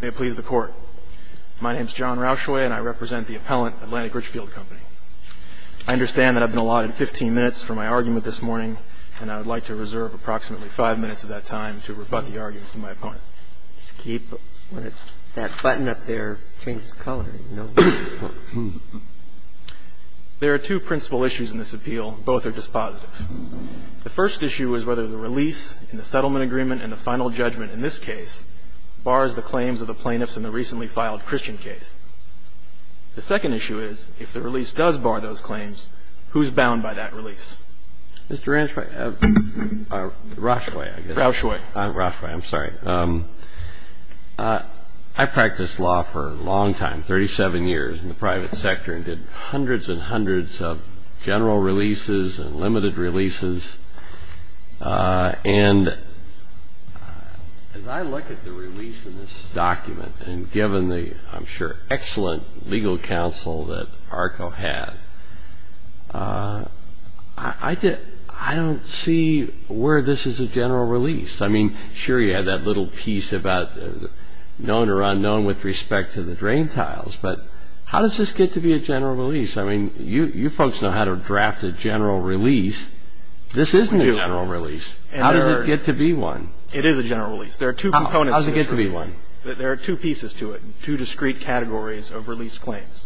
May it please the Court, my name is John Rauschway, and I represent the appellant, Atlantic Richfield Company. I understand that I've been allotted 15 minutes for my argument this morning, and I would like to reserve approximately 5 minutes of that time to rebut the arguments of my opponent. Let's keep that button up there, change the color, you know. There are two principal issues in this appeal, both are dispositive. The first issue is whether the release in the settlement agreement and the final judgment in this case bars the claims of the plaintiffs in the recently filed Christian case. The second issue is, if the release does bar those claims, who's bound by that release? Mr. Rancho, Rauschway, I guess. Rauschway. Rauschway, I'm sorry. I practiced law for a long time, 37 years in the private sector, and did hundreds and hundreds of general releases and limited releases. And as I look at the release in this document, and given the, I'm sure, excellent legal counsel that ARCO had, I don't see where this is a general release. I mean, sure, you have that little piece about known or unknown with respect to the drain tiles, but how does this get to be a general release? I mean, you folks know how to draft a general release. This isn't a general release. How does it get to be one? It is a general release. There are two components. How does it get to be one? There are two pieces to it, two discrete categories of release claims.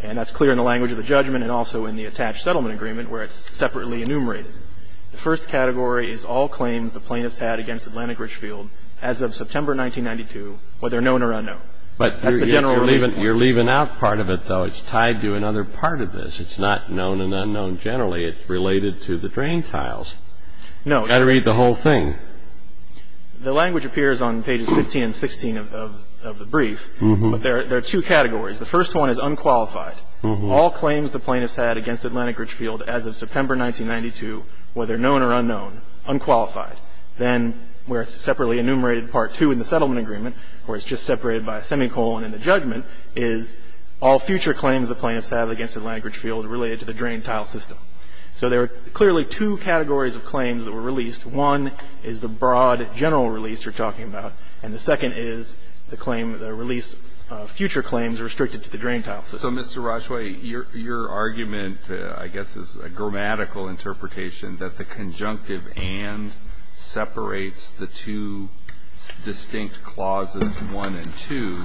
And that's clear in the language of the judgment and also in the attached settlement agreement where it's separately enumerated. The first category is all claims the plaintiffs had against Atlantic Richfield as of September 1992, whether known or unknown. But that's the general release. You're leaving out part of it, though. It's tied to another part of this. It's not known and unknown generally. It's related to the drain tiles. No. You've got to read the whole thing. The language appears on pages 15 and 16 of the brief, but there are two categories. The first one is unqualified. All claims the plaintiffs had against Atlantic Richfield as of September 1992, whether known or unknown, unqualified. Then where it's separately enumerated, part two in the settlement agreement, where it's just separated by a semicolon in the judgment, is all future claims the plaintiffs had against Atlantic Richfield related to the drain tile system. So there are clearly two categories of claims that were released. One is the broad general release you're talking about, and the second is the claim, the release of future claims restricted to the drain tile system. So, Mr. Roshway, your argument, I guess, is a grammatical interpretation that the conjunctive and separates the two distinct clauses 1 and 2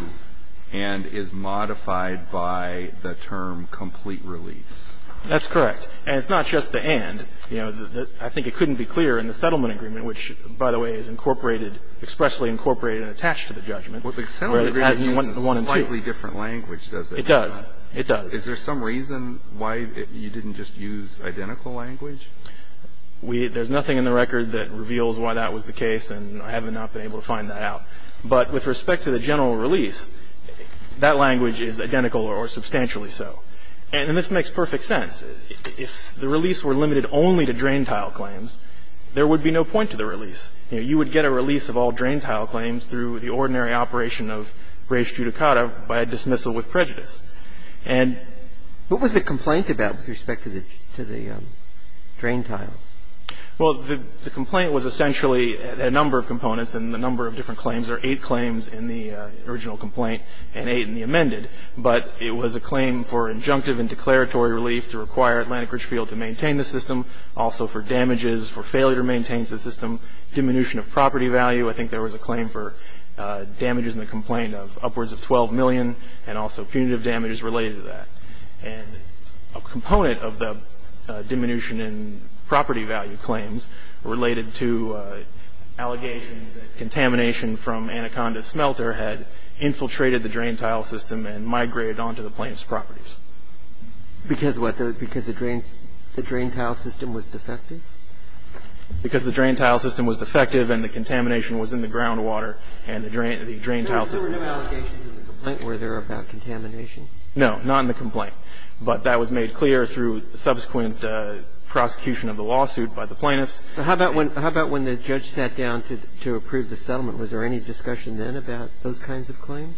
and is modified by the term complete release. That's correct. And it's not just the and. You know, I think it couldn't be clearer in the settlement agreement, which, by the way, is incorporated, expressly incorporated and attached to the judgment. Well, the settlement agreement uses a slightly different language, does it? It does. It does. Is there some reason why you didn't just use identical language? We – there's nothing in the record that reveals why that was the case, and I have not been able to find that out. But with respect to the general release, that language is identical or substantially so. And this makes perfect sense. If the release were limited only to drain tile claims, there would be no point to the release. You know, you would get a release of all drain tile claims through the ordinary operation of res judicata by dismissal with prejudice. And what was the complaint about with respect to the drain tiles? Well, the complaint was essentially a number of components, and the number of different claims are eight claims in the original complaint and eight in the amended. But it was a claim for injunctive and declaratory relief to require Atlantic Ridge Field to maintain the system, also for damages, for failure to maintain the system, diminution of property value. I think there was a claim for damages in the complaint of upwards of $12 million and also punitive damages related to that. And a component of the diminution in property value claims related to allegations that contamination from Anaconda smelter had infiltrated the drain tile system and migrated onto the plaintiff's properties. Because what? Because the drain tile system was defective? Because the drain tile system was defective and the contamination was in the groundwater and the drain tile system. There were no allegations in the complaint, were there, about contamination? No, not in the complaint. But that was made clear through subsequent prosecution of the lawsuit by the plaintiffs. How about when the judge sat down to approve the settlement? Was there any discussion then about those kinds of claims?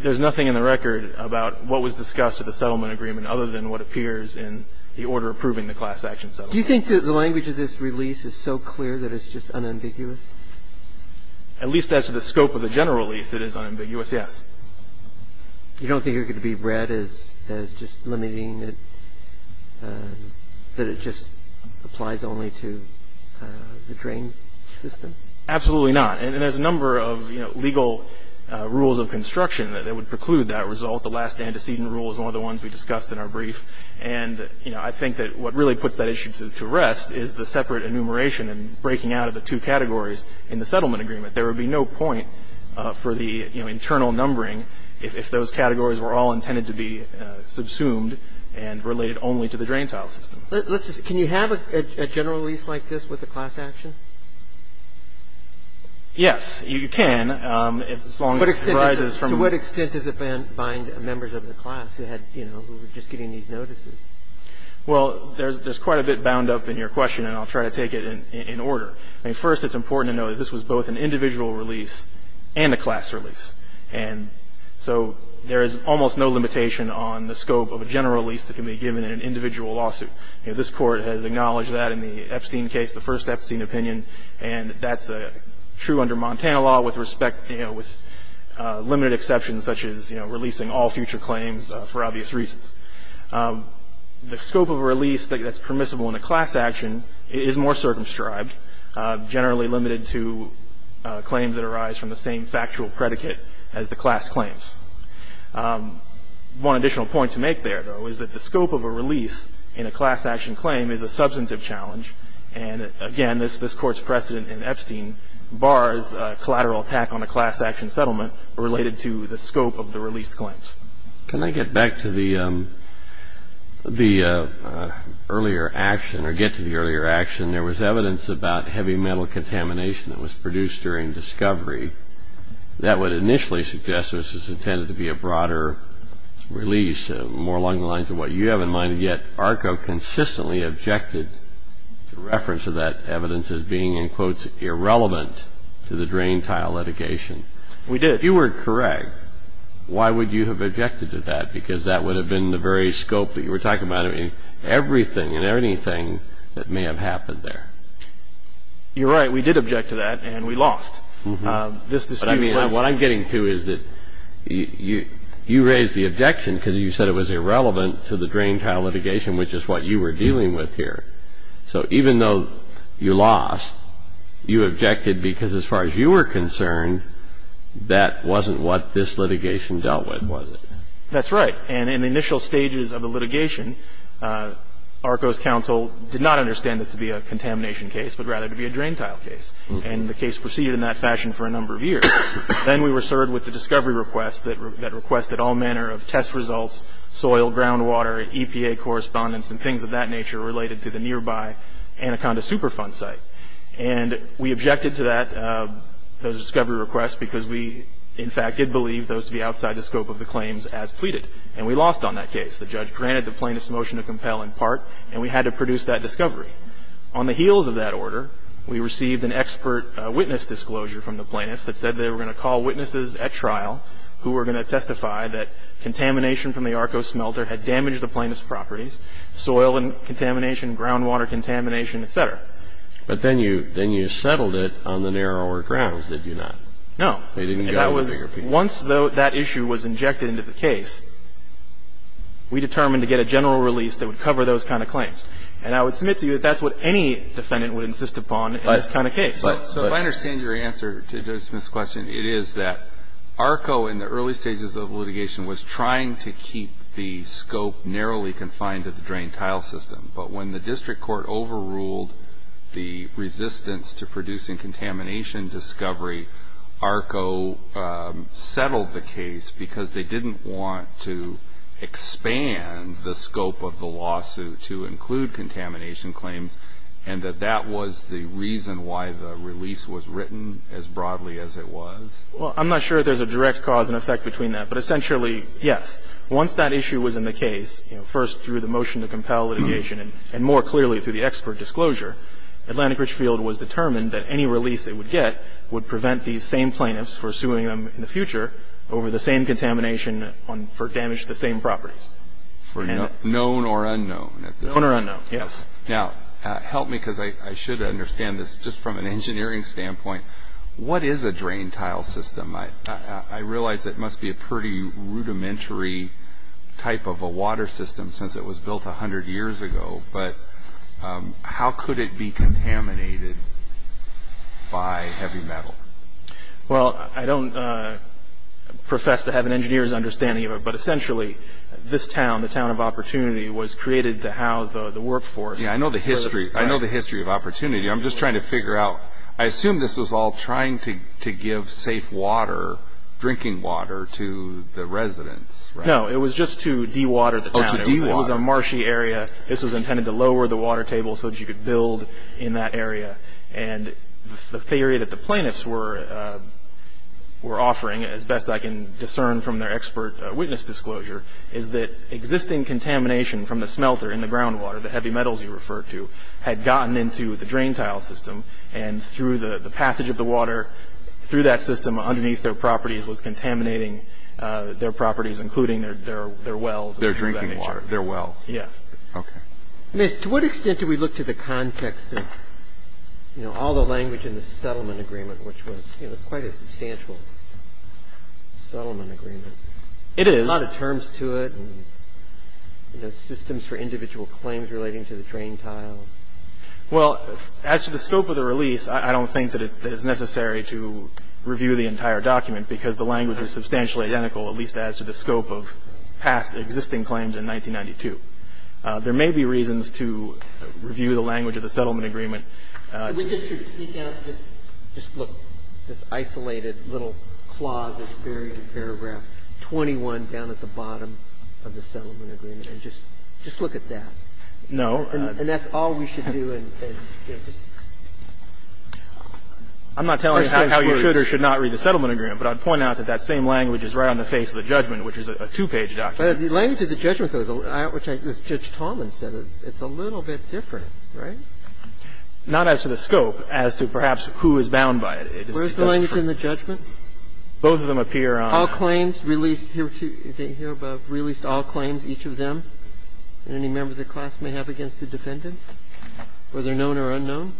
There's nothing in the record about what was discussed at the settlement agreement other than what appears in the order approving the class action settlement. Do you think that the language of this release is so clear that it's just unambiguous? At least as to the scope of the general release, it is unambiguous, yes. You don't think it could be read as just limiting it, that it just applies only to the drain system? Absolutely not. And there's a number of legal rules of construction that would preclude that result. The last antecedent rule is one of the ones we discussed in our brief. And I think that what really puts that issue to rest is the separate enumeration and breaking out of the two categories in the settlement agreement. There would be no point for the internal numbering if those categories were all intended to be subsumed and related only to the drain tile system. Can you have a general release like this with the class action? Yes, you can, as long as it arises from the ______. To what extent does it bind members of the class who had, you know, who were just getting these notices? Well, there's quite a bit bound up in your question, and I'll try to take it in order. First, it's important to know that this was both an individual release and a class release. And so there is almost no limitation on the scope of a general release that can be given in an individual lawsuit. This Court has acknowledged that in the Epstein case, the first Epstein opinion. And that's true under Montana law with respect, you know, with limited exceptions, such as, you know, releasing all future claims for obvious reasons. The scope of a release that's permissible in a class action is more circumscribed, generally limited to claims that arise from the same factual predicate as the class claims. One additional point to make there, though, is that the scope of a release in a class action claim is a substantive challenge. And, again, this Court's precedent in Epstein bars collateral attack on a class action settlement related to the scope of the released claims. Can I get back to the earlier action, or get to the earlier action? There was evidence about heavy metal contamination that was produced during discovery. That would initially suggest this was intended to be a broader release, more along the lines of what you have in mind. Yet ARCO consistently objected to reference of that evidence as being, in quotes, irrelevant to the drain tile litigation. We did. If you were correct, why would you have objected to that? Because that would have been the very scope that you were talking about. I mean, everything and anything that may have happened there. You're right. We did object to that, and we lost. What I'm getting to is that you raised the objection because you said it was irrelevant to the drain tile litigation, which is what you were dealing with here. So even though you lost, you objected because as far as you were concerned, that wasn't what this litigation dealt with, was it? That's right. And in the initial stages of the litigation, ARCO's counsel did not understand this to be a contamination case, but rather to be a drain tile case. And the case proceeded in that fashion for a number of years. Then we were served with the discovery request that requested all manner of test results, soil, groundwater, EPA correspondence, and things of that nature related to the nearby Anaconda Superfund site. And we objected to that discovery request because we, in fact, did believe those to be outside the scope of the claims as pleaded. And we lost on that case. The judge granted the plaintiff's motion to compel in part, and we had to produce that discovery. On the heels of that order, we received an expert witness disclosure from the plaintiffs that said they were going to call witnesses at trial who were going to testify that contamination from the ARCO smelter had damaged the plaintiff's properties, soil contamination, groundwater contamination, et cetera. But then you settled it on the narrower grounds, did you not? No. Once that issue was injected into the case, we determined to get a general release that would cover those kind of claims. And I would submit to you that that's what any defendant would insist upon in this kind of case. So if I understand your answer to Judge Smith's question, it is that ARCO, in the early stages of litigation, was trying to keep the scope narrowly confined to the drain tile system. But when the district court overruled the resistance to producing contamination discovery, ARCO settled the case because they didn't want to expand the scope of the lawsuit to include contamination claims, and that that was the reason why the release was written as broadly as it was? Well, I'm not sure there's a direct cause and effect between that. But essentially, yes. Once that issue was in the case, first through the motion to compel litigation and more clearly through the expert disclosure, Atlantic Richfield was determined that any release it would get would prevent these same plaintiffs for suing them in the future over the same contamination for damage to the same properties. For known or unknown? Known or unknown, yes. Now, help me because I should understand this just from an engineering standpoint. What is a drain tile system? I realize it must be a pretty rudimentary type of a water system since it was built 100 years ago. But how could it be contaminated by heavy metal? Well, I don't profess to have an engineer's understanding of it, but essentially this town, the town of Opportunity, was created to house the workforce. Yeah, I know the history. I know the history of Opportunity. I'm just trying to figure out. I assume this was all trying to give safe water, drinking water, to the residents, right? No, it was just to dewater the town. Oh, to dewater. It was a marshy area. This was intended to lower the water table so that you could build in that area. And the theory that the plaintiffs were offering, as best I can discern from their expert witness disclosure, is that existing contamination from the smelter in the groundwater, the heavy metals you referred to, had gotten into the drain tile system and through the passage of the water through that system underneath their properties was contaminating their properties, including their wells. Their drinking water, their wells. Yes. Okay. To what extent do we look to the context of all the language in the settlement agreement, which was quite a substantial settlement agreement? It is. A lot of terms to it and systems for individual claims relating to the drain tile. Well, as to the scope of the release, I don't think that it is necessary to review the entire document because the language is substantially identical, at least as to the scope of past existing claims in 1992. There may be reasons to review the language of the settlement agreement. So we just should speak out and just look at this isolated little clause that's buried in paragraph 21 down at the bottom of the settlement agreement and just look at that? No. And that's all we should do? I'm not telling you how you should or should not read the settlement agreement, but I'd point out that that same language is right on the face of the judgment, which is a two-page document. But the language of the judgment, though, as Judge Tallman said, it's a little bit different, right? Not as to the scope. As to perhaps who is bound by it. Where's the language in the judgment? Both of them appear on the judgment. All claims released here above, released all claims, each of them, and any member of the class may have against the defendants, whether known or unknown?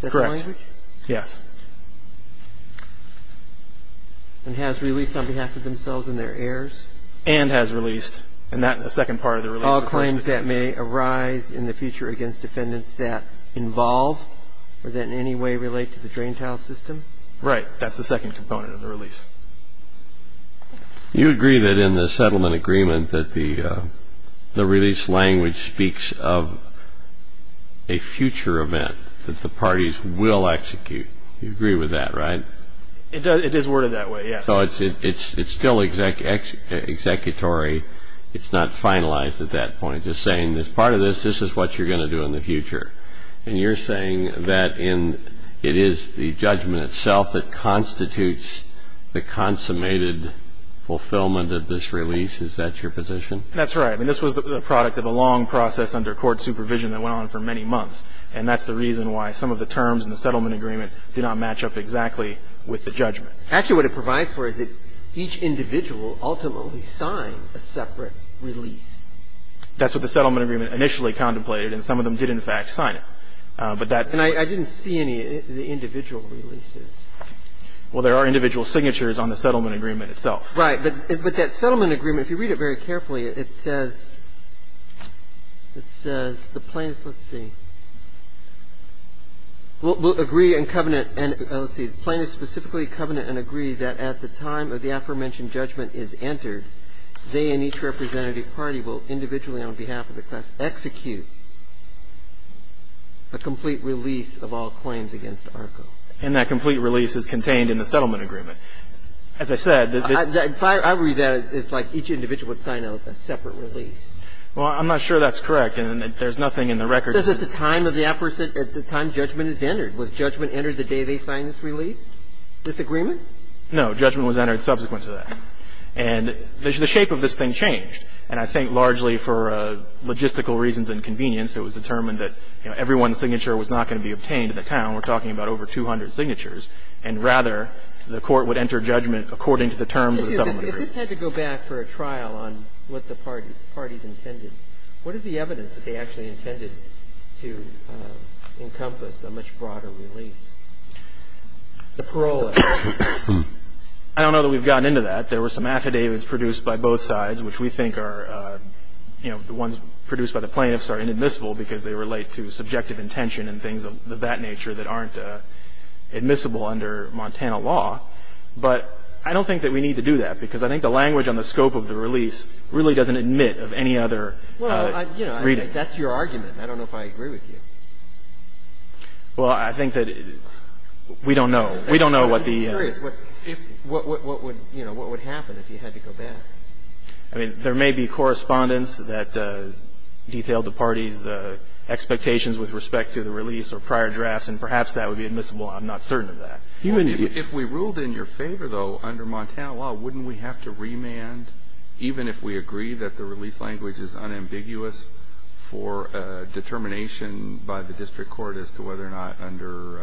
Correct. Is that the language? Yes. And has released on behalf of themselves and their heirs? And has released. And that's the second part of the release. All claims that may arise in the future against defendants that involve or that in any way relate to the drain tile system? Right. That's the second component of the release. You agree that in the settlement agreement that the release language speaks of a future event that the parties will execute. You agree with that, right? It is worded that way, yes. So it's still executory. It's not finalized at that point. Just saying as part of this, this is what you're going to do in the future. And you're saying that it is the judgment itself that constitutes the consummated fulfillment of this release. Is that your position? That's right. I mean, this was the product of a long process under court supervision that went on for many months. And that's the reason why some of the terms in the settlement agreement did not match up exactly with the judgment. Actually, what it provides for is that each individual ultimately signed a separate release. That's what the settlement agreement initially contemplated. And some of them did, in fact, sign it. And I didn't see any of the individual releases. Well, there are individual signatures on the settlement agreement itself. Right. But that settlement agreement, if you read it very carefully, it says the plaintiffs, let's see, will agree and covenant and, let's see, plaintiffs specifically covenant and agree that at the time of the aforementioned judgment is entered, they and each representative party will individually on behalf of the class execute a complete release of all claims against ARCO. And that complete release is contained in the settlement agreement. As I said, this – If I read that, it's like each individual would sign a separate release. Well, I'm not sure that's correct. And there's nothing in the record – It says at the time of the aforementioned – at the time judgment is entered. Was judgment entered the day they signed this release, this agreement? No. Judgment was entered subsequent to that. And the shape of this thing changed. And I think largely for logistical reasons and convenience, it was determined that everyone's signature was not going to be obtained in the town. We're talking about over 200 signatures. And rather, the court would enter judgment according to the terms of the settlement agreement. Excuse me. If this had to go back for a trial on what the parties intended, what is the evidence that they actually intended to encompass a much broader release? The parole act. I don't know that we've gotten into that. There were some affidavits produced by both sides which we think are – you know, the ones produced by the plaintiffs are inadmissible because they relate to subjective intention and things of that nature that aren't admissible under Montana law. But I don't think that we need to do that because I think the language on the scope of the release really doesn't admit of any other reading. Well, you know, that's your argument. I don't know if I agree with you. Well, I think that we don't know. We don't know what the – I'm just curious. What would happen if you had to go back? I mean, there may be correspondence that detailed the parties' expectations with respect to the release or prior drafts, and perhaps that would be admissible. I'm not certain of that. If we ruled in your favor, though, under Montana law, wouldn't we have to remand, even if we agree that the release language is unambiguous for determination by the district court as to whether or not under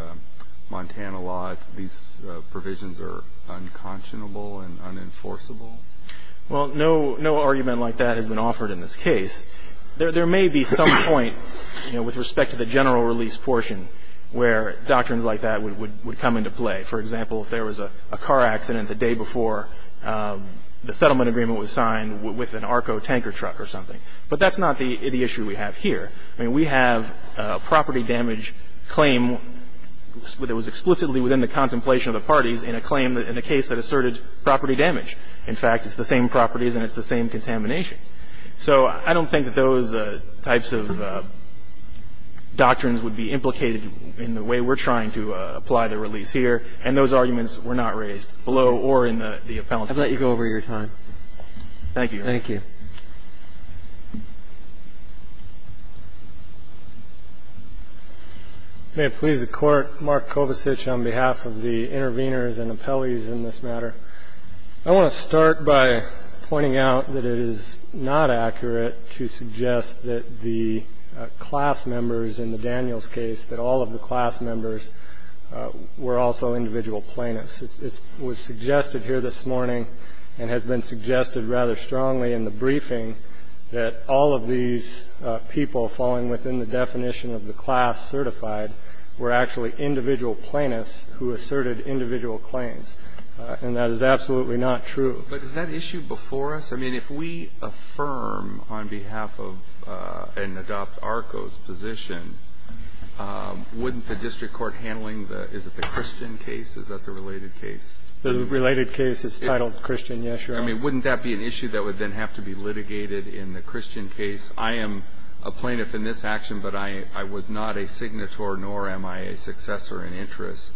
Montana law these provisions are unconscionable and unenforceable? Well, no argument like that has been offered in this case. There may be some point, you know, with respect to the general release portion where doctrines like that would come into play. For example, if there was a car accident the day before the settlement agreement was signed with an ARCO tanker truck or something. But that's not the issue we have here. I mean, we have a property damage claim that was explicitly within the contemplation of the parties in a claim in a case that asserted property damage. In fact, it's the same properties and it's the same contamination. So I don't think that those types of doctrines would be implicated in the way we're trying to apply the release here. And those arguments were not raised below or in the appellant's case. I'll let you go over your time. Thank you. Thank you. May it please the Court. Mark Kovacic on behalf of the interveners and appellees in this matter. I want to start by pointing out that it is not accurate to suggest that the class members in the Daniels case, that all of the class members were also individual plaintiffs. It was suggested here this morning and has been suggested rather strongly in the briefing that all of these people falling within the definition of the class certified were actually individual plaintiffs who asserted individual claims. And that is absolutely not true. But is that issue before us? I mean, if we affirm on behalf of and adopt ARCO's position, wouldn't the district court handling the, is it the Christian case? Is that the related case? The related case is titled Christian, yes, Your Honor. I mean, wouldn't that be an issue that would then have to be litigated in the Christian case? I am a plaintiff in this action, but I was not a signator nor am I a successor in interest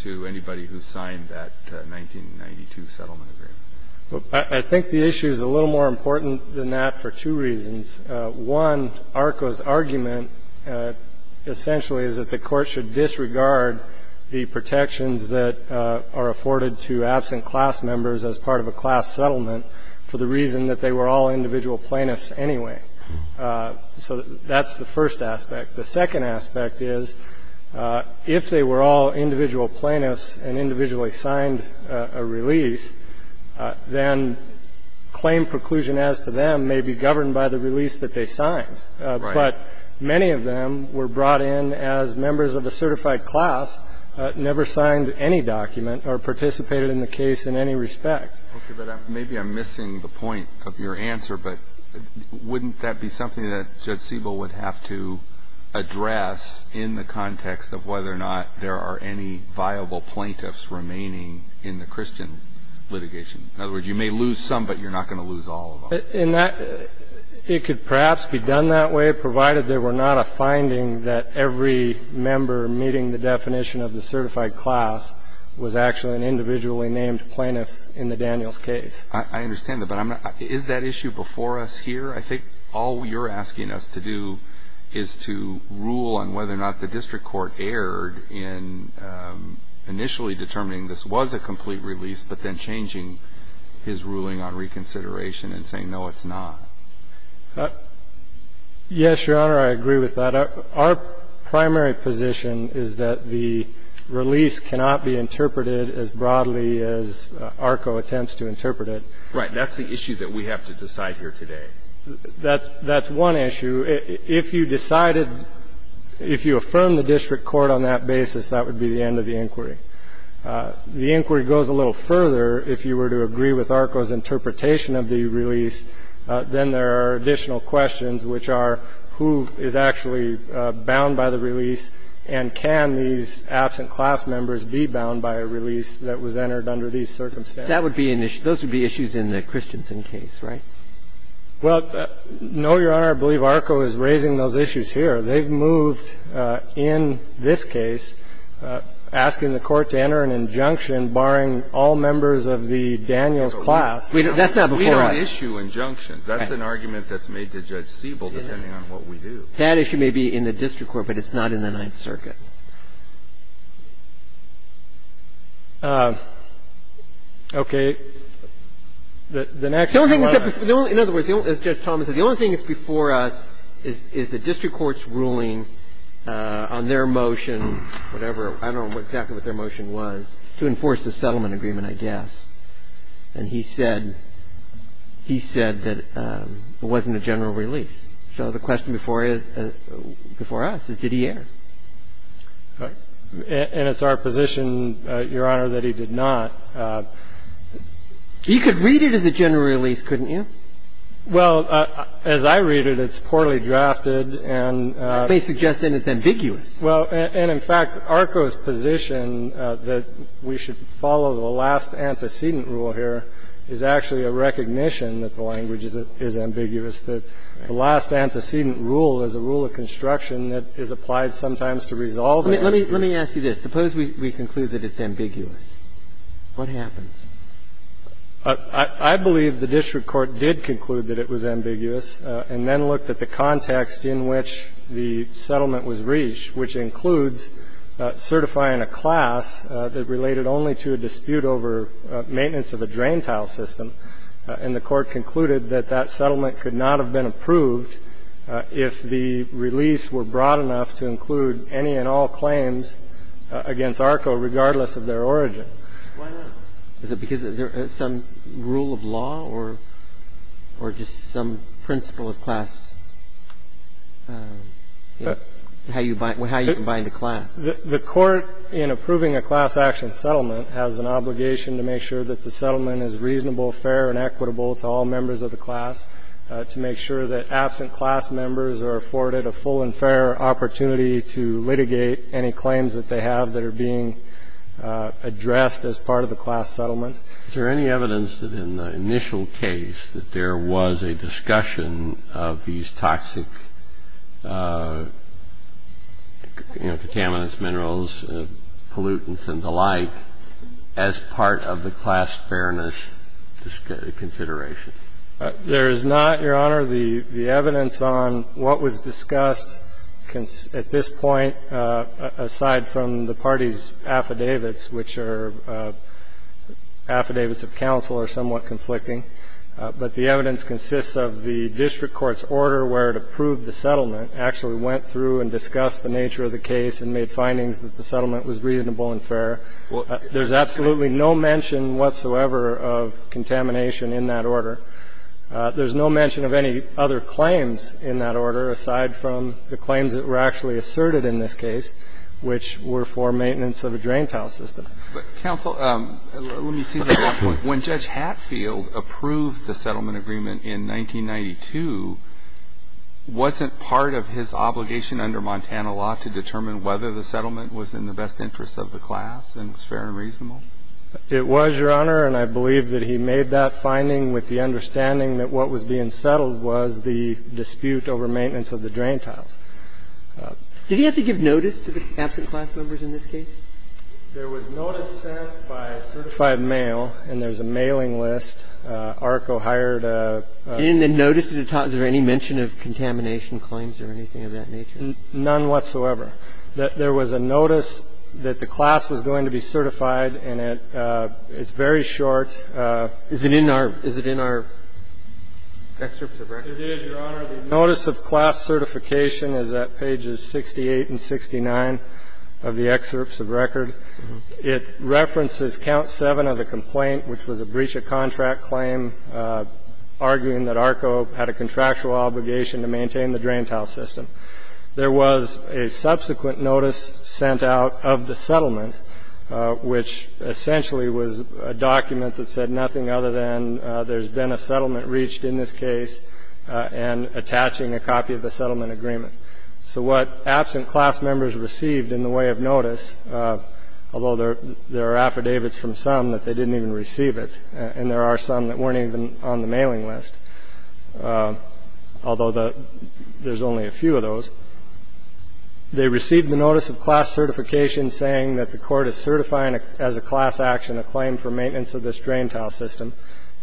to anybody who signed that 1992 settlement agreement. I think the issue is a little more important than that for two reasons. One, ARCO's argument essentially is that the court should disregard the protections that are afforded to absent class members as part of a class settlement for the reason that they were all individual plaintiffs anyway. So that's the first aspect. The second aspect is if they were all individual plaintiffs and individually signed a release, then claim preclusion as to them may be governed by the release that they signed. Right. But many of them were brought in as members of a certified class, never signed any document or participated in the case in any respect. Okay. But maybe I'm missing the point of your answer, but wouldn't that be something that Judge Siebel would have to address in the context of whether or not there are any viable plaintiffs remaining in the Christian litigation? In other words, you may lose some, but you're not going to lose all of them. It could perhaps be done that way, provided there were not a finding that every member meeting the definition of the certified class was actually an individually named plaintiff in the Daniels case. I understand that, but is that issue before us here? I think all you're asking us to do is to rule on whether or not the district court erred in initially determining this was a complete release, but then changing his ruling on reconsideration and saying, no, it's not. Yes, Your Honor, I agree with that. Our primary position is that the release cannot be interpreted as broadly as ARCO attempts to interpret it. Right. That's the issue that we have to decide here today. That's one issue. If you decided, if you affirm the district court on that basis, that would be the end of the inquiry. The inquiry goes a little further. If you were to agree with ARCO's interpretation of the release, then there are additional questions, which are, who is actually bound by the release, and can these absent class members be bound by a release that was entered under these circumstances? That would be an issue. Those would be issues in the Christensen case, right? Well, no, Your Honor. I believe ARCO is raising those issues here. They've moved in this case, asking the court to enter an injunction barring all members of the Daniels class. That's not before us. We don't issue injunctions. That's an argument that's made to Judge Siebel, depending on what we do. That issue may be in the district court, but it's not in the Ninth Circuit. Okay. The next one. In other words, as Judge Thomas said, the only thing that's before us is the district court's ruling on their motion, whatever, I don't know exactly what their motion was, to enforce the settlement agreement, I guess. And he said that it wasn't a general release. So the question before us is, did he err? And it's our position, Your Honor, that he did not. He could read it as a general release, couldn't you? Well, as I read it, it's poorly drafted and they suggest that it's ambiguous. Well, and in fact, ARCO's position that we should follow the last antecedent rule here is actually a recognition that the language is ambiguous, that the last antecedent rule is a rule of construction that is applied sometimes to resolve it. Let me ask you this. Suppose we conclude that it's ambiguous. What happens? I believe the district court did conclude that it was ambiguous, and then looked at the context in which the settlement was reached, which includes certifying a class that related only to a dispute over maintenance of a drain tile system. And the court concluded that that settlement could not have been approved if the release were broad enough to include any and all claims against ARCO, regardless of their origin. Why not? Is it because there is some rule of law or just some principle of class? How you combine the class? The court, in approving a class action settlement, has an obligation to make sure that the settlement is reasonable, fair and equitable to all members of the class, to make sure that absent class members are afforded a full and fair opportunity to litigate any claims that they have that are being addressed as part of the class settlement. Is there any evidence that in the initial case that there was a discussion of these toxic, you know, contaminants, minerals, pollutants, and the like as part of the class fairness consideration? There is not, Your Honor, the evidence on what was discussed at this point, aside from the party's affidavits, which are affidavits of counsel are somewhat conflicting. But the evidence consists of the district court's order where it approved the settlement, actually went through and discussed the nature of the case and made findings that the settlement was reasonable and fair. There's absolutely no mention whatsoever of contamination in that order. There's no mention of any other claims in that order, aside from the claims that were actually asserted in this case, which were for maintenance of a drain tile system. But, counsel, let me see that one point. When Judge Hatfield approved the settlement agreement in 1992, wasn't part of his obligation under Montana law to determine whether the settlement was in the best interest of the class and was fair and reasonable? It was, Your Honor. And I believe that he made that finding with the understanding that what was being settled was the dispute over maintenance of the drain tiles. Did he have to give notice to the absent class members in this case? There was notice sent by a certified mail, and there's a mailing list. ARCO hired a... And in the notice, is there any mention of contamination claims or anything of that nature? None whatsoever. There was a notice that the class was going to be certified, and it's very short. Is it in our excerpts of record? It is, Your Honor. The notice of class certification is at pages 68 and 69 of the excerpts of record. It references count 7 of the complaint, which was a breach of contract claim, arguing that ARCO had a contractual obligation to maintain the drain tile system. There was a subsequent notice sent out of the settlement, which essentially was a document that said nothing other than there's been a settlement reached in this case and attaching a copy of the settlement agreement. So what absent class members received in the way of notice, although there are affidavits from some that they didn't even receive it, and there are some that weren't even on the mailing list, although there's only a few of those, they received the notice of class certification saying that the court is certifying as a class action a claim for maintenance of this drain tile system,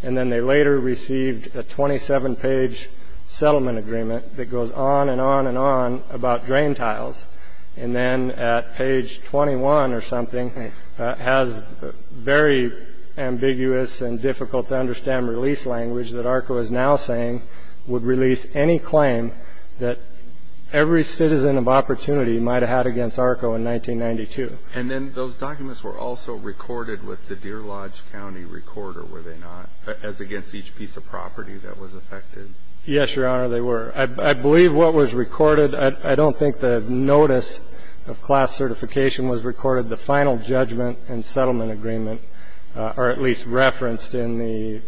and then they later received a 27-page settlement agreement that goes on and on and on about drain tiles, and then at page 21 or something has very ambiguous and difficult-to-understand release language that ARCO is now saying would release any claim that every citizen of opportunity might have had against ARCO in 1992. And then those documents were also recorded with the Deer Lodge County recorder, were they not, as against each piece of property that was affected? Yes, Your Honor, they were. I believe what was recorded, I don't think the notice of class certification was recorded. The final judgment and settlement agreement are at least referenced in the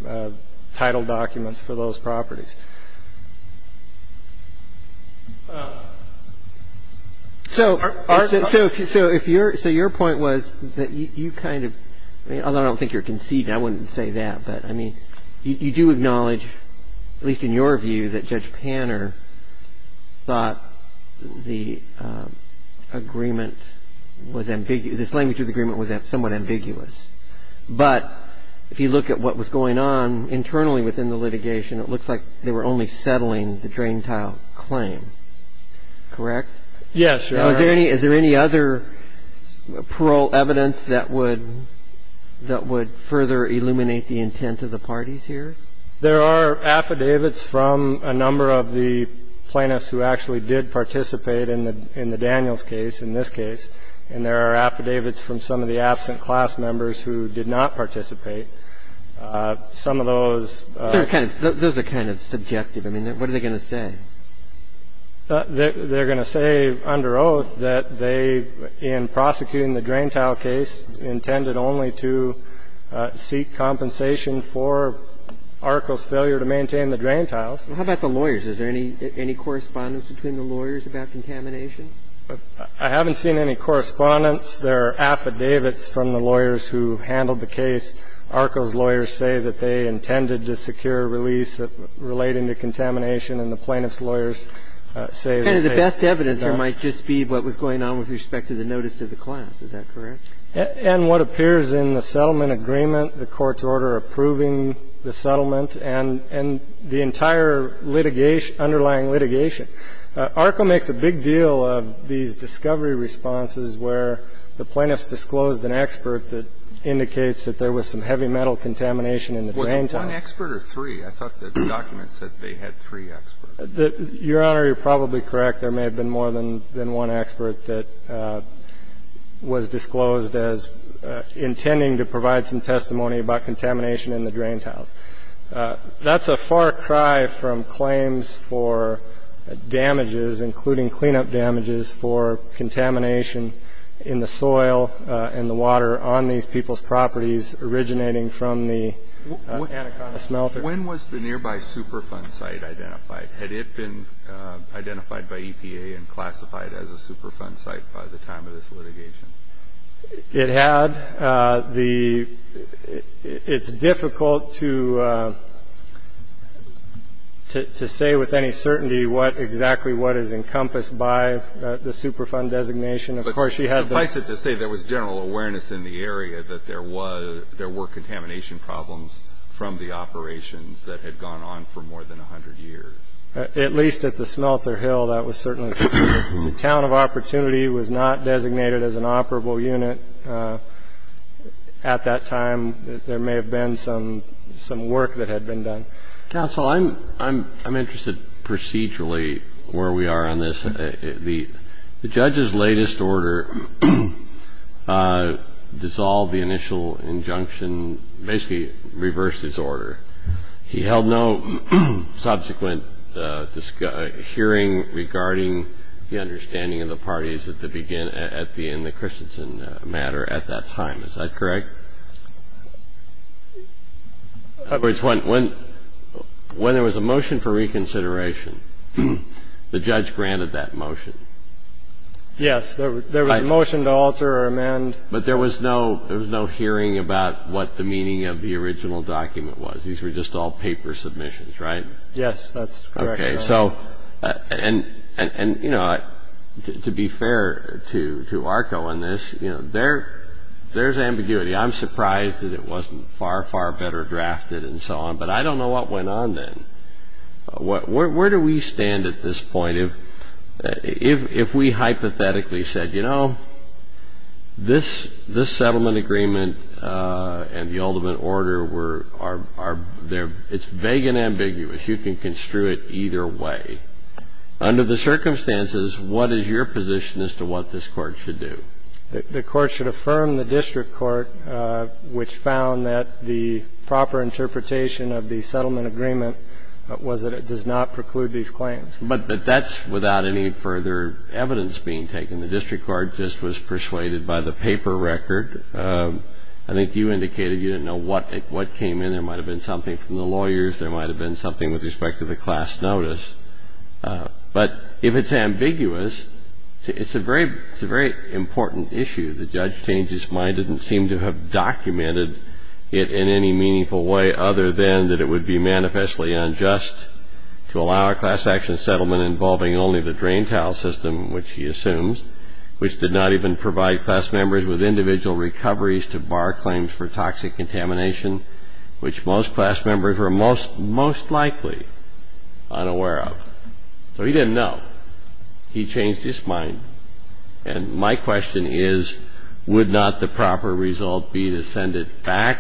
title documents for those properties. So your point was that you kind of, although I don't think you're conceding, I wouldn't say that, but, I mean, you do acknowledge, at least in your view, that Judge Panner thought the agreement was ambiguous, this language of the agreement was somewhat ambiguous. But if you look at what was going on internally within the litigation, it looks like they were only settling the drain tile claim, correct? Yes, Your Honor. Is there any other parole evidence that would further illuminate the intent of the parties here? There are affidavits from a number of the plaintiffs who actually did participate in the Daniels case, in this case, and there are affidavits from some of the absent class members who did not participate. Some of those – Those are kind of subjective. I mean, what are they going to say? They're going to say under oath that they, in prosecuting the drain tile case, intended only to seek compensation for Arco's failure to maintain the drain tiles. How about the lawyers? Is there any correspondence between the lawyers about contamination? I haven't seen any correspondence. There are affidavits from the lawyers who handled the case. Arco's lawyers say that they intended to secure a release relating to contamination, and the plaintiff's lawyers say that they – Kind of the best evidence there might just be what was going on with respect to the notice to the class. Is that correct? And what appears in the settlement agreement, the court's order approving the settlement, and the entire litigation – underlying litigation. Arco makes a big deal of these discovery responses where the plaintiffs disclosed an expert that indicates that there was some heavy metal contamination in the drain tiles. Was it one expert or three? I thought the document said they had three experts. Your Honor, you're probably correct. There may have been more than one expert that was disclosed as intending to provide some testimony about contamination in the drain tiles. That's a far cry from claims for damages, including cleanup damages, for contamination in the soil and the water on these people's properties originating from the Anaconda smelter. When was the nearby Superfund site identified? Had it been identified by EPA and classified as a Superfund site by the time of this litigation? It had. It's difficult to say with any certainty exactly what is encompassed by the Superfund designation. But suffice it to say there was general awareness in the area that there were contamination problems from the operations that had gone on for more than 100 years. At least at the smelter hill, that was certainly true. The town of Opportunity was not designated as an operable unit at that time. There may have been some work that had been done. Counsel, I'm interested procedurally where we are on this. The judge's latest order dissolved the initial injunction, basically reversed his order. He held no subsequent hearing regarding the understanding of the parties at the beginning and the Christensen matter at that time. Is that correct? When there was a motion for reconsideration, the judge granted that motion. Yes. There was a motion to alter or amend. But there was no hearing about what the meaning of the original document was. These were just all paper submissions, right? Yes, that's correct. To be fair to ARCO on this, there's ambiguity. I'm surprised that it wasn't far, far better drafted and so on. But I don't know what went on then. Where do we stand at this point if we hypothetically said, you know, this settlement agreement and the ultimate order, it's vague and ambiguous. You can construe it either way. Under the circumstances, what is your position as to what this court should do? The court should affirm the district court, which found that the proper interpretation of the settlement agreement was that it does not preclude these claims. But that's without any further evidence being taken. The district court just was persuaded by the paper record. I think you indicated you didn't know what came in. There might have been something from the lawyers. There might have been something with respect to the class notice. But if it's ambiguous, it's a very important issue. The judge changed his mind, didn't seem to have documented it in any meaningful way other than that it would be manifestly unjust to allow a class action settlement involving only the drain tile system, which he assumes, which did not even provide class members with individual recoveries to bar claims for toxic contamination, which most class members were most likely unaware of. So he didn't know. He changed his mind. And my question is, would not the proper result be to send it back,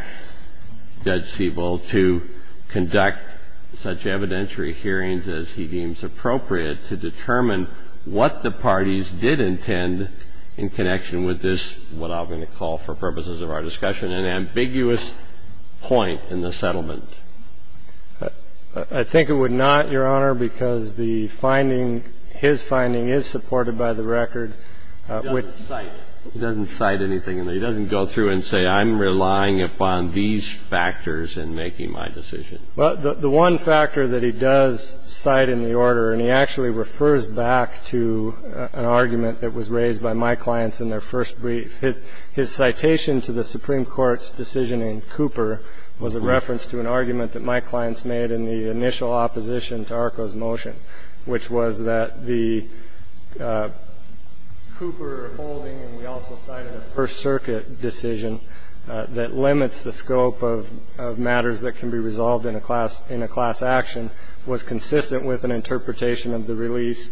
Judge Siebel, to conduct such evidentiary hearings as he deems appropriate to determine what the parties did intend in connection with this, what I'm going to call for purposes of our discussion, an ambiguous point in the settlement? I think it would not, Your Honor, because the finding, his finding is supported by the record. He doesn't cite. He doesn't cite anything in there. He doesn't go through and say, I'm relying upon these factors in making my decision. Well, the one factor that he does cite in the order, and he actually refers back to an argument that was raised by my clients in their first brief, his citation to the Supreme Court's decision in Cooper was a reference to an argument that my clients made in the initial opposition to ARCO's motion, which was that the Cooper holding, and we also cited a First Circuit decision that limits the scope of matters that can be resolved in a class action, was consistent with an interpretation of the release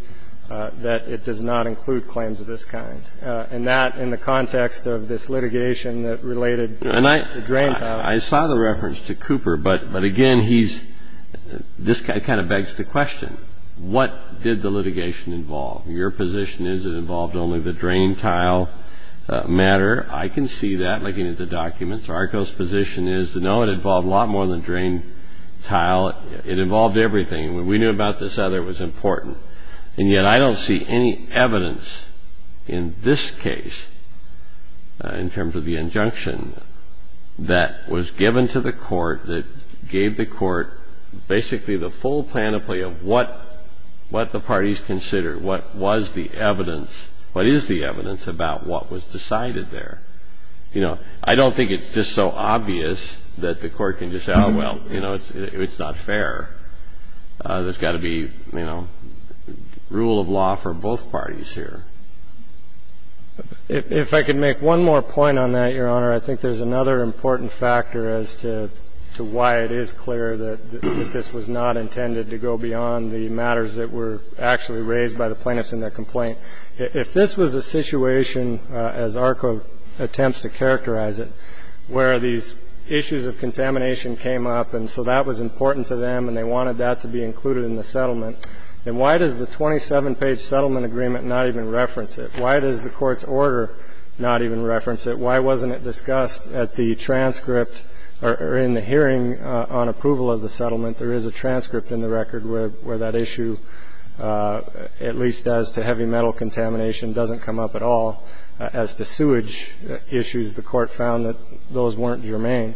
that it does not include claims of this kind. And that in the context of this litigation that related to drain tile. I saw the reference to Cooper, but again, he's, this guy kind of begs the question, what did the litigation involve? Your position is it involved only the drain tile matter. I can see that looking at the documents. ARCO's position is, no, it involved a lot more than drain tile. It involved everything. When we knew about this other, it was important. And yet I don't see any evidence in this case, in terms of the injunction that was given to the court, that gave the court basically the full plan of play of what the parties considered, what was the evidence, what is the evidence about what was decided there. You know, I don't think it's just so obvious that the court can just say, oh, well, you know, it's not fair. There's got to be, you know, rule of law for both parties here. If I could make one more point on that, Your Honor, I think there's another important factor as to why it is clear that this was not intended to go beyond the matters that were actually raised by the plaintiffs in their complaint. If this was a situation, as ARCO attempts to characterize it, where these issues of contamination came up, and so that was important to them, and they wanted that to be included in the settlement, then why does the 27-page settlement agreement not even reference it? Why does the court's order not even reference it? Why wasn't it discussed at the transcript or in the hearing on approval of the settlement? There is a transcript in the record where that issue, at least as to heavy metal contamination, doesn't come up at all. As to sewage issues, the court found that those weren't germane.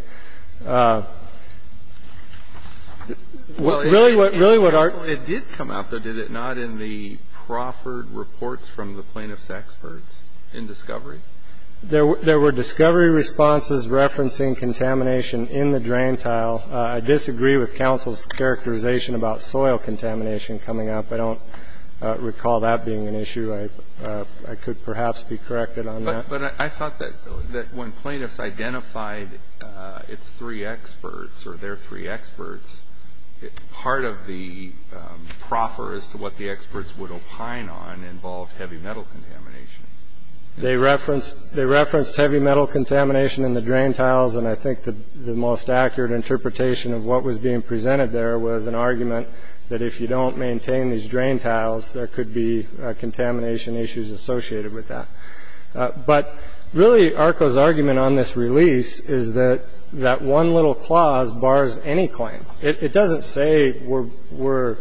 Really what ARCO ---- It did come up, though, did it not, in the proffered reports from the plaintiffs' experts in discovery? There were discovery responses referencing contamination in the drain tile. I disagree with counsel's characterization about soil contamination coming up. I don't recall that being an issue. I could perhaps be corrected on that. But I thought that when plaintiffs identified its three experts or their three experts, part of the proffer as to what the experts would opine on involved heavy metal contamination. They referenced heavy metal contamination in the drain tiles, and I think the most accurate interpretation of what was being presented there was an argument that if you don't maintain these drain tiles, there could be contamination issues associated with that. But really ARCO's argument on this release is that that one little clause bars any claim. It doesn't say we're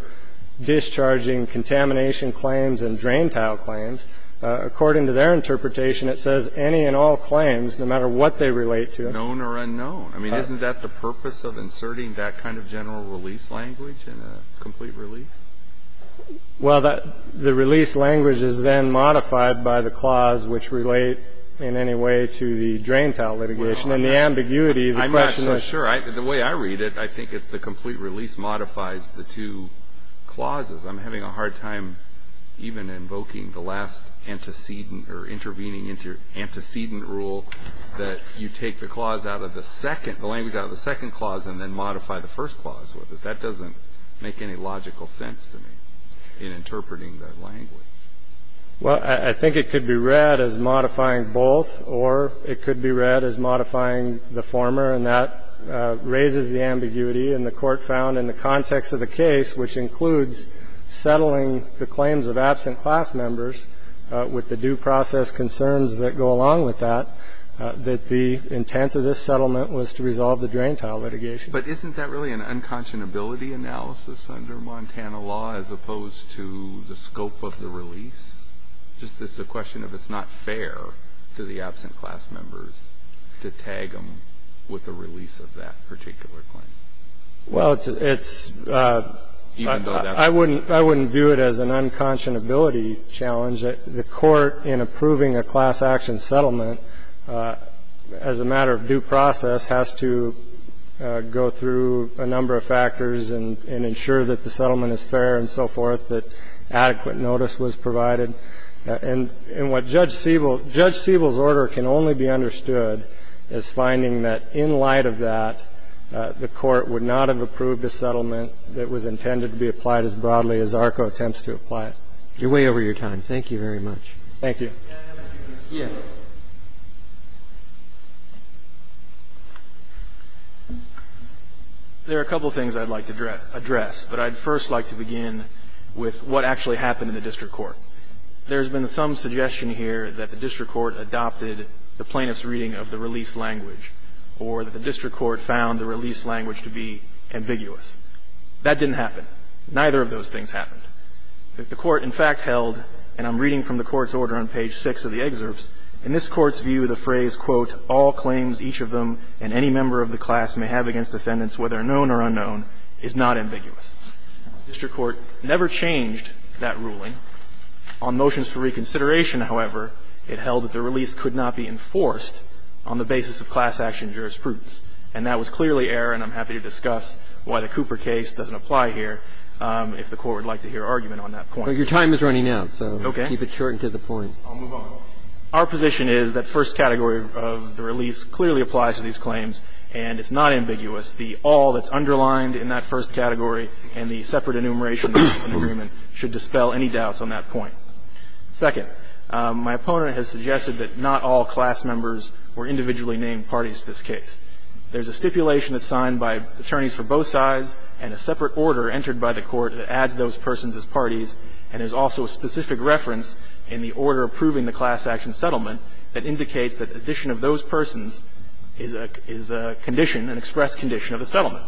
discharging contamination claims and drain tile claims. According to their interpretation, it says any and all claims, no matter what they relate to. Known or unknown. I mean, isn't that the purpose of inserting that kind of general release language in a complete release? Well, the release language is then modified by the clause, which relate in any way to the drain tile litigation. And the ambiguity of the question is. I'm not so sure. The way I read it, I think it's the complete release modifies the two clauses. I'm having a hard time even invoking the last antecedent or intervening antecedent rule that you take the clause out of the second, the language out of the second clause, and then modify the first clause with it. That doesn't make any logical sense to me in interpreting that language. Well, I think it could be read as modifying both, or it could be read as modifying the former. And that raises the ambiguity. And the Court found in the context of the case, which includes settling the claims of absent class members with the due process concerns that go along with that, that the intent of this settlement was to resolve the drain tile litigation. But isn't that really an unconscionability analysis under Montana law, as opposed to the scope of the release? It's just a question of if it's not fair to the absent class members to tag them with the release of that particular claim. Well, it's. Even though that's. I wouldn't view it as an unconscionability challenge. The Court, in approving a class action settlement as a matter of due process, has to go through a number of factors and ensure that the settlement is fair and so forth, that adequate notice was provided. And what Judge Siebel's order can only be understood as finding that in light of that, the Court would not have approved a settlement that was intended to be applied as broadly as ARCO attempts to apply it. You're way over your time. Thank you very much. Thank you. Yeah. There are a couple of things I'd like to address, but I'd first like to begin with what actually happened in the district court. There's been some suggestion here that the district court adopted the plaintiff's reading of the release language or that the district court found the release language to be ambiguous. That didn't happen. Neither of those things happened. The court, in fact, held, and I'm reading from the court's order on page 6 of the excerpts, in this court's view, the phrase, quote, All claims, each of them, and any member of the class may have against defendants, whether known or unknown, is not ambiguous. The district court never changed that ruling. On motions for reconsideration, however, it held that the release could not be enforced on the basis of class action jurisprudence. And that was clearly error, and I'm happy to discuss why the Cooper case doesn't apply here if the court would like to hear argument on that point. Your time is running out, so keep it short and to the point. I'll move on. Our position is that first category of the release clearly applies to these claims, and it's not ambiguous. The all that's underlined in that first category and the separate enumeration of an agreement should dispel any doubts on that point. Second, my opponent has suggested that not all class members were individually named parties to this case. There's a stipulation that's signed by attorneys for both sides and a separate order entered by the court that adds those persons as parties. And there's also a specific reference in the order approving the class action settlement that indicates that addition of those persons is a condition, an express condition, of a settlement.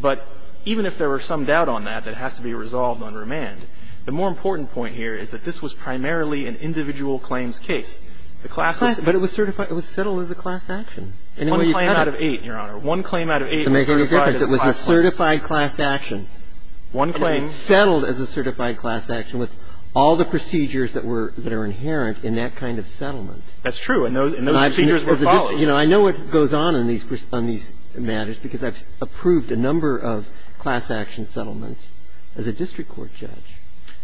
But even if there were some doubt on that that has to be resolved on remand, the more important point here is that this was primarily an individual claims case. The class was certified. It was settled as a class action. One claim out of eight, Your Honor. One claim out of eight was certified as a class action. It was a certified class action. One claim. But it was settled as a certified class action with all the procedures that were, that are inherent in that kind of settlement. That's true. And those procedures were followed. You know, I know what goes on in these matters because I've approved a number of class action settlements as a district court judge.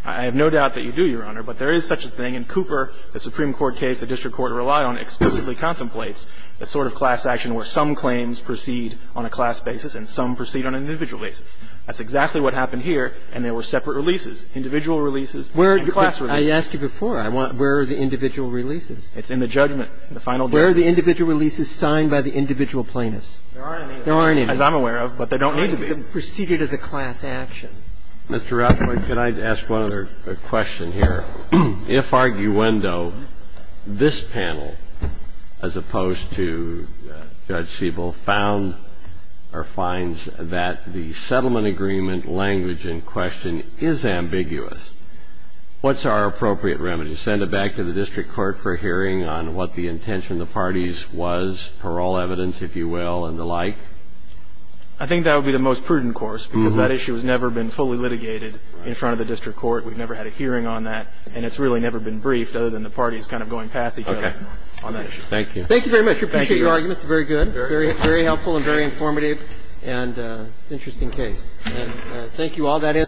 I have no doubt that you do, Your Honor. But there is such a thing. In Cooper, the Supreme Court case the district court relied on explicitly contemplates a sort of class action where some claims proceed on a class basis and some proceed on an individual basis. That's exactly what happened here, and there were separate releases. Individual releases and class releases. But I asked you before. Where are the individual releases? It's in the judgment. The final judgment. Where are the individual releases signed by the individual plaintiffs? There aren't any. There aren't any. As I'm aware of, but there don't need to be. Proceeded as a class action. Mr. Rothberg, can I ask one other question here? If arguendo, this panel, as opposed to Judge Siebel, found or finds that the settlement agreement language in question is ambiguous, what's our appropriate remedy? Send it back to the district court for hearing on what the intention of the parties was, parole evidence, if you will, and the like? I think that would be the most prudent course because that issue has never been fully litigated in front of the district court. We've never had a hearing on that, and it's really never been briefed other than the parties kind of going past each other on that issue. Okay. Thank you. Thank you very much. We appreciate your arguments. Very good. Very helpful and very informative and interesting case. And thank you all.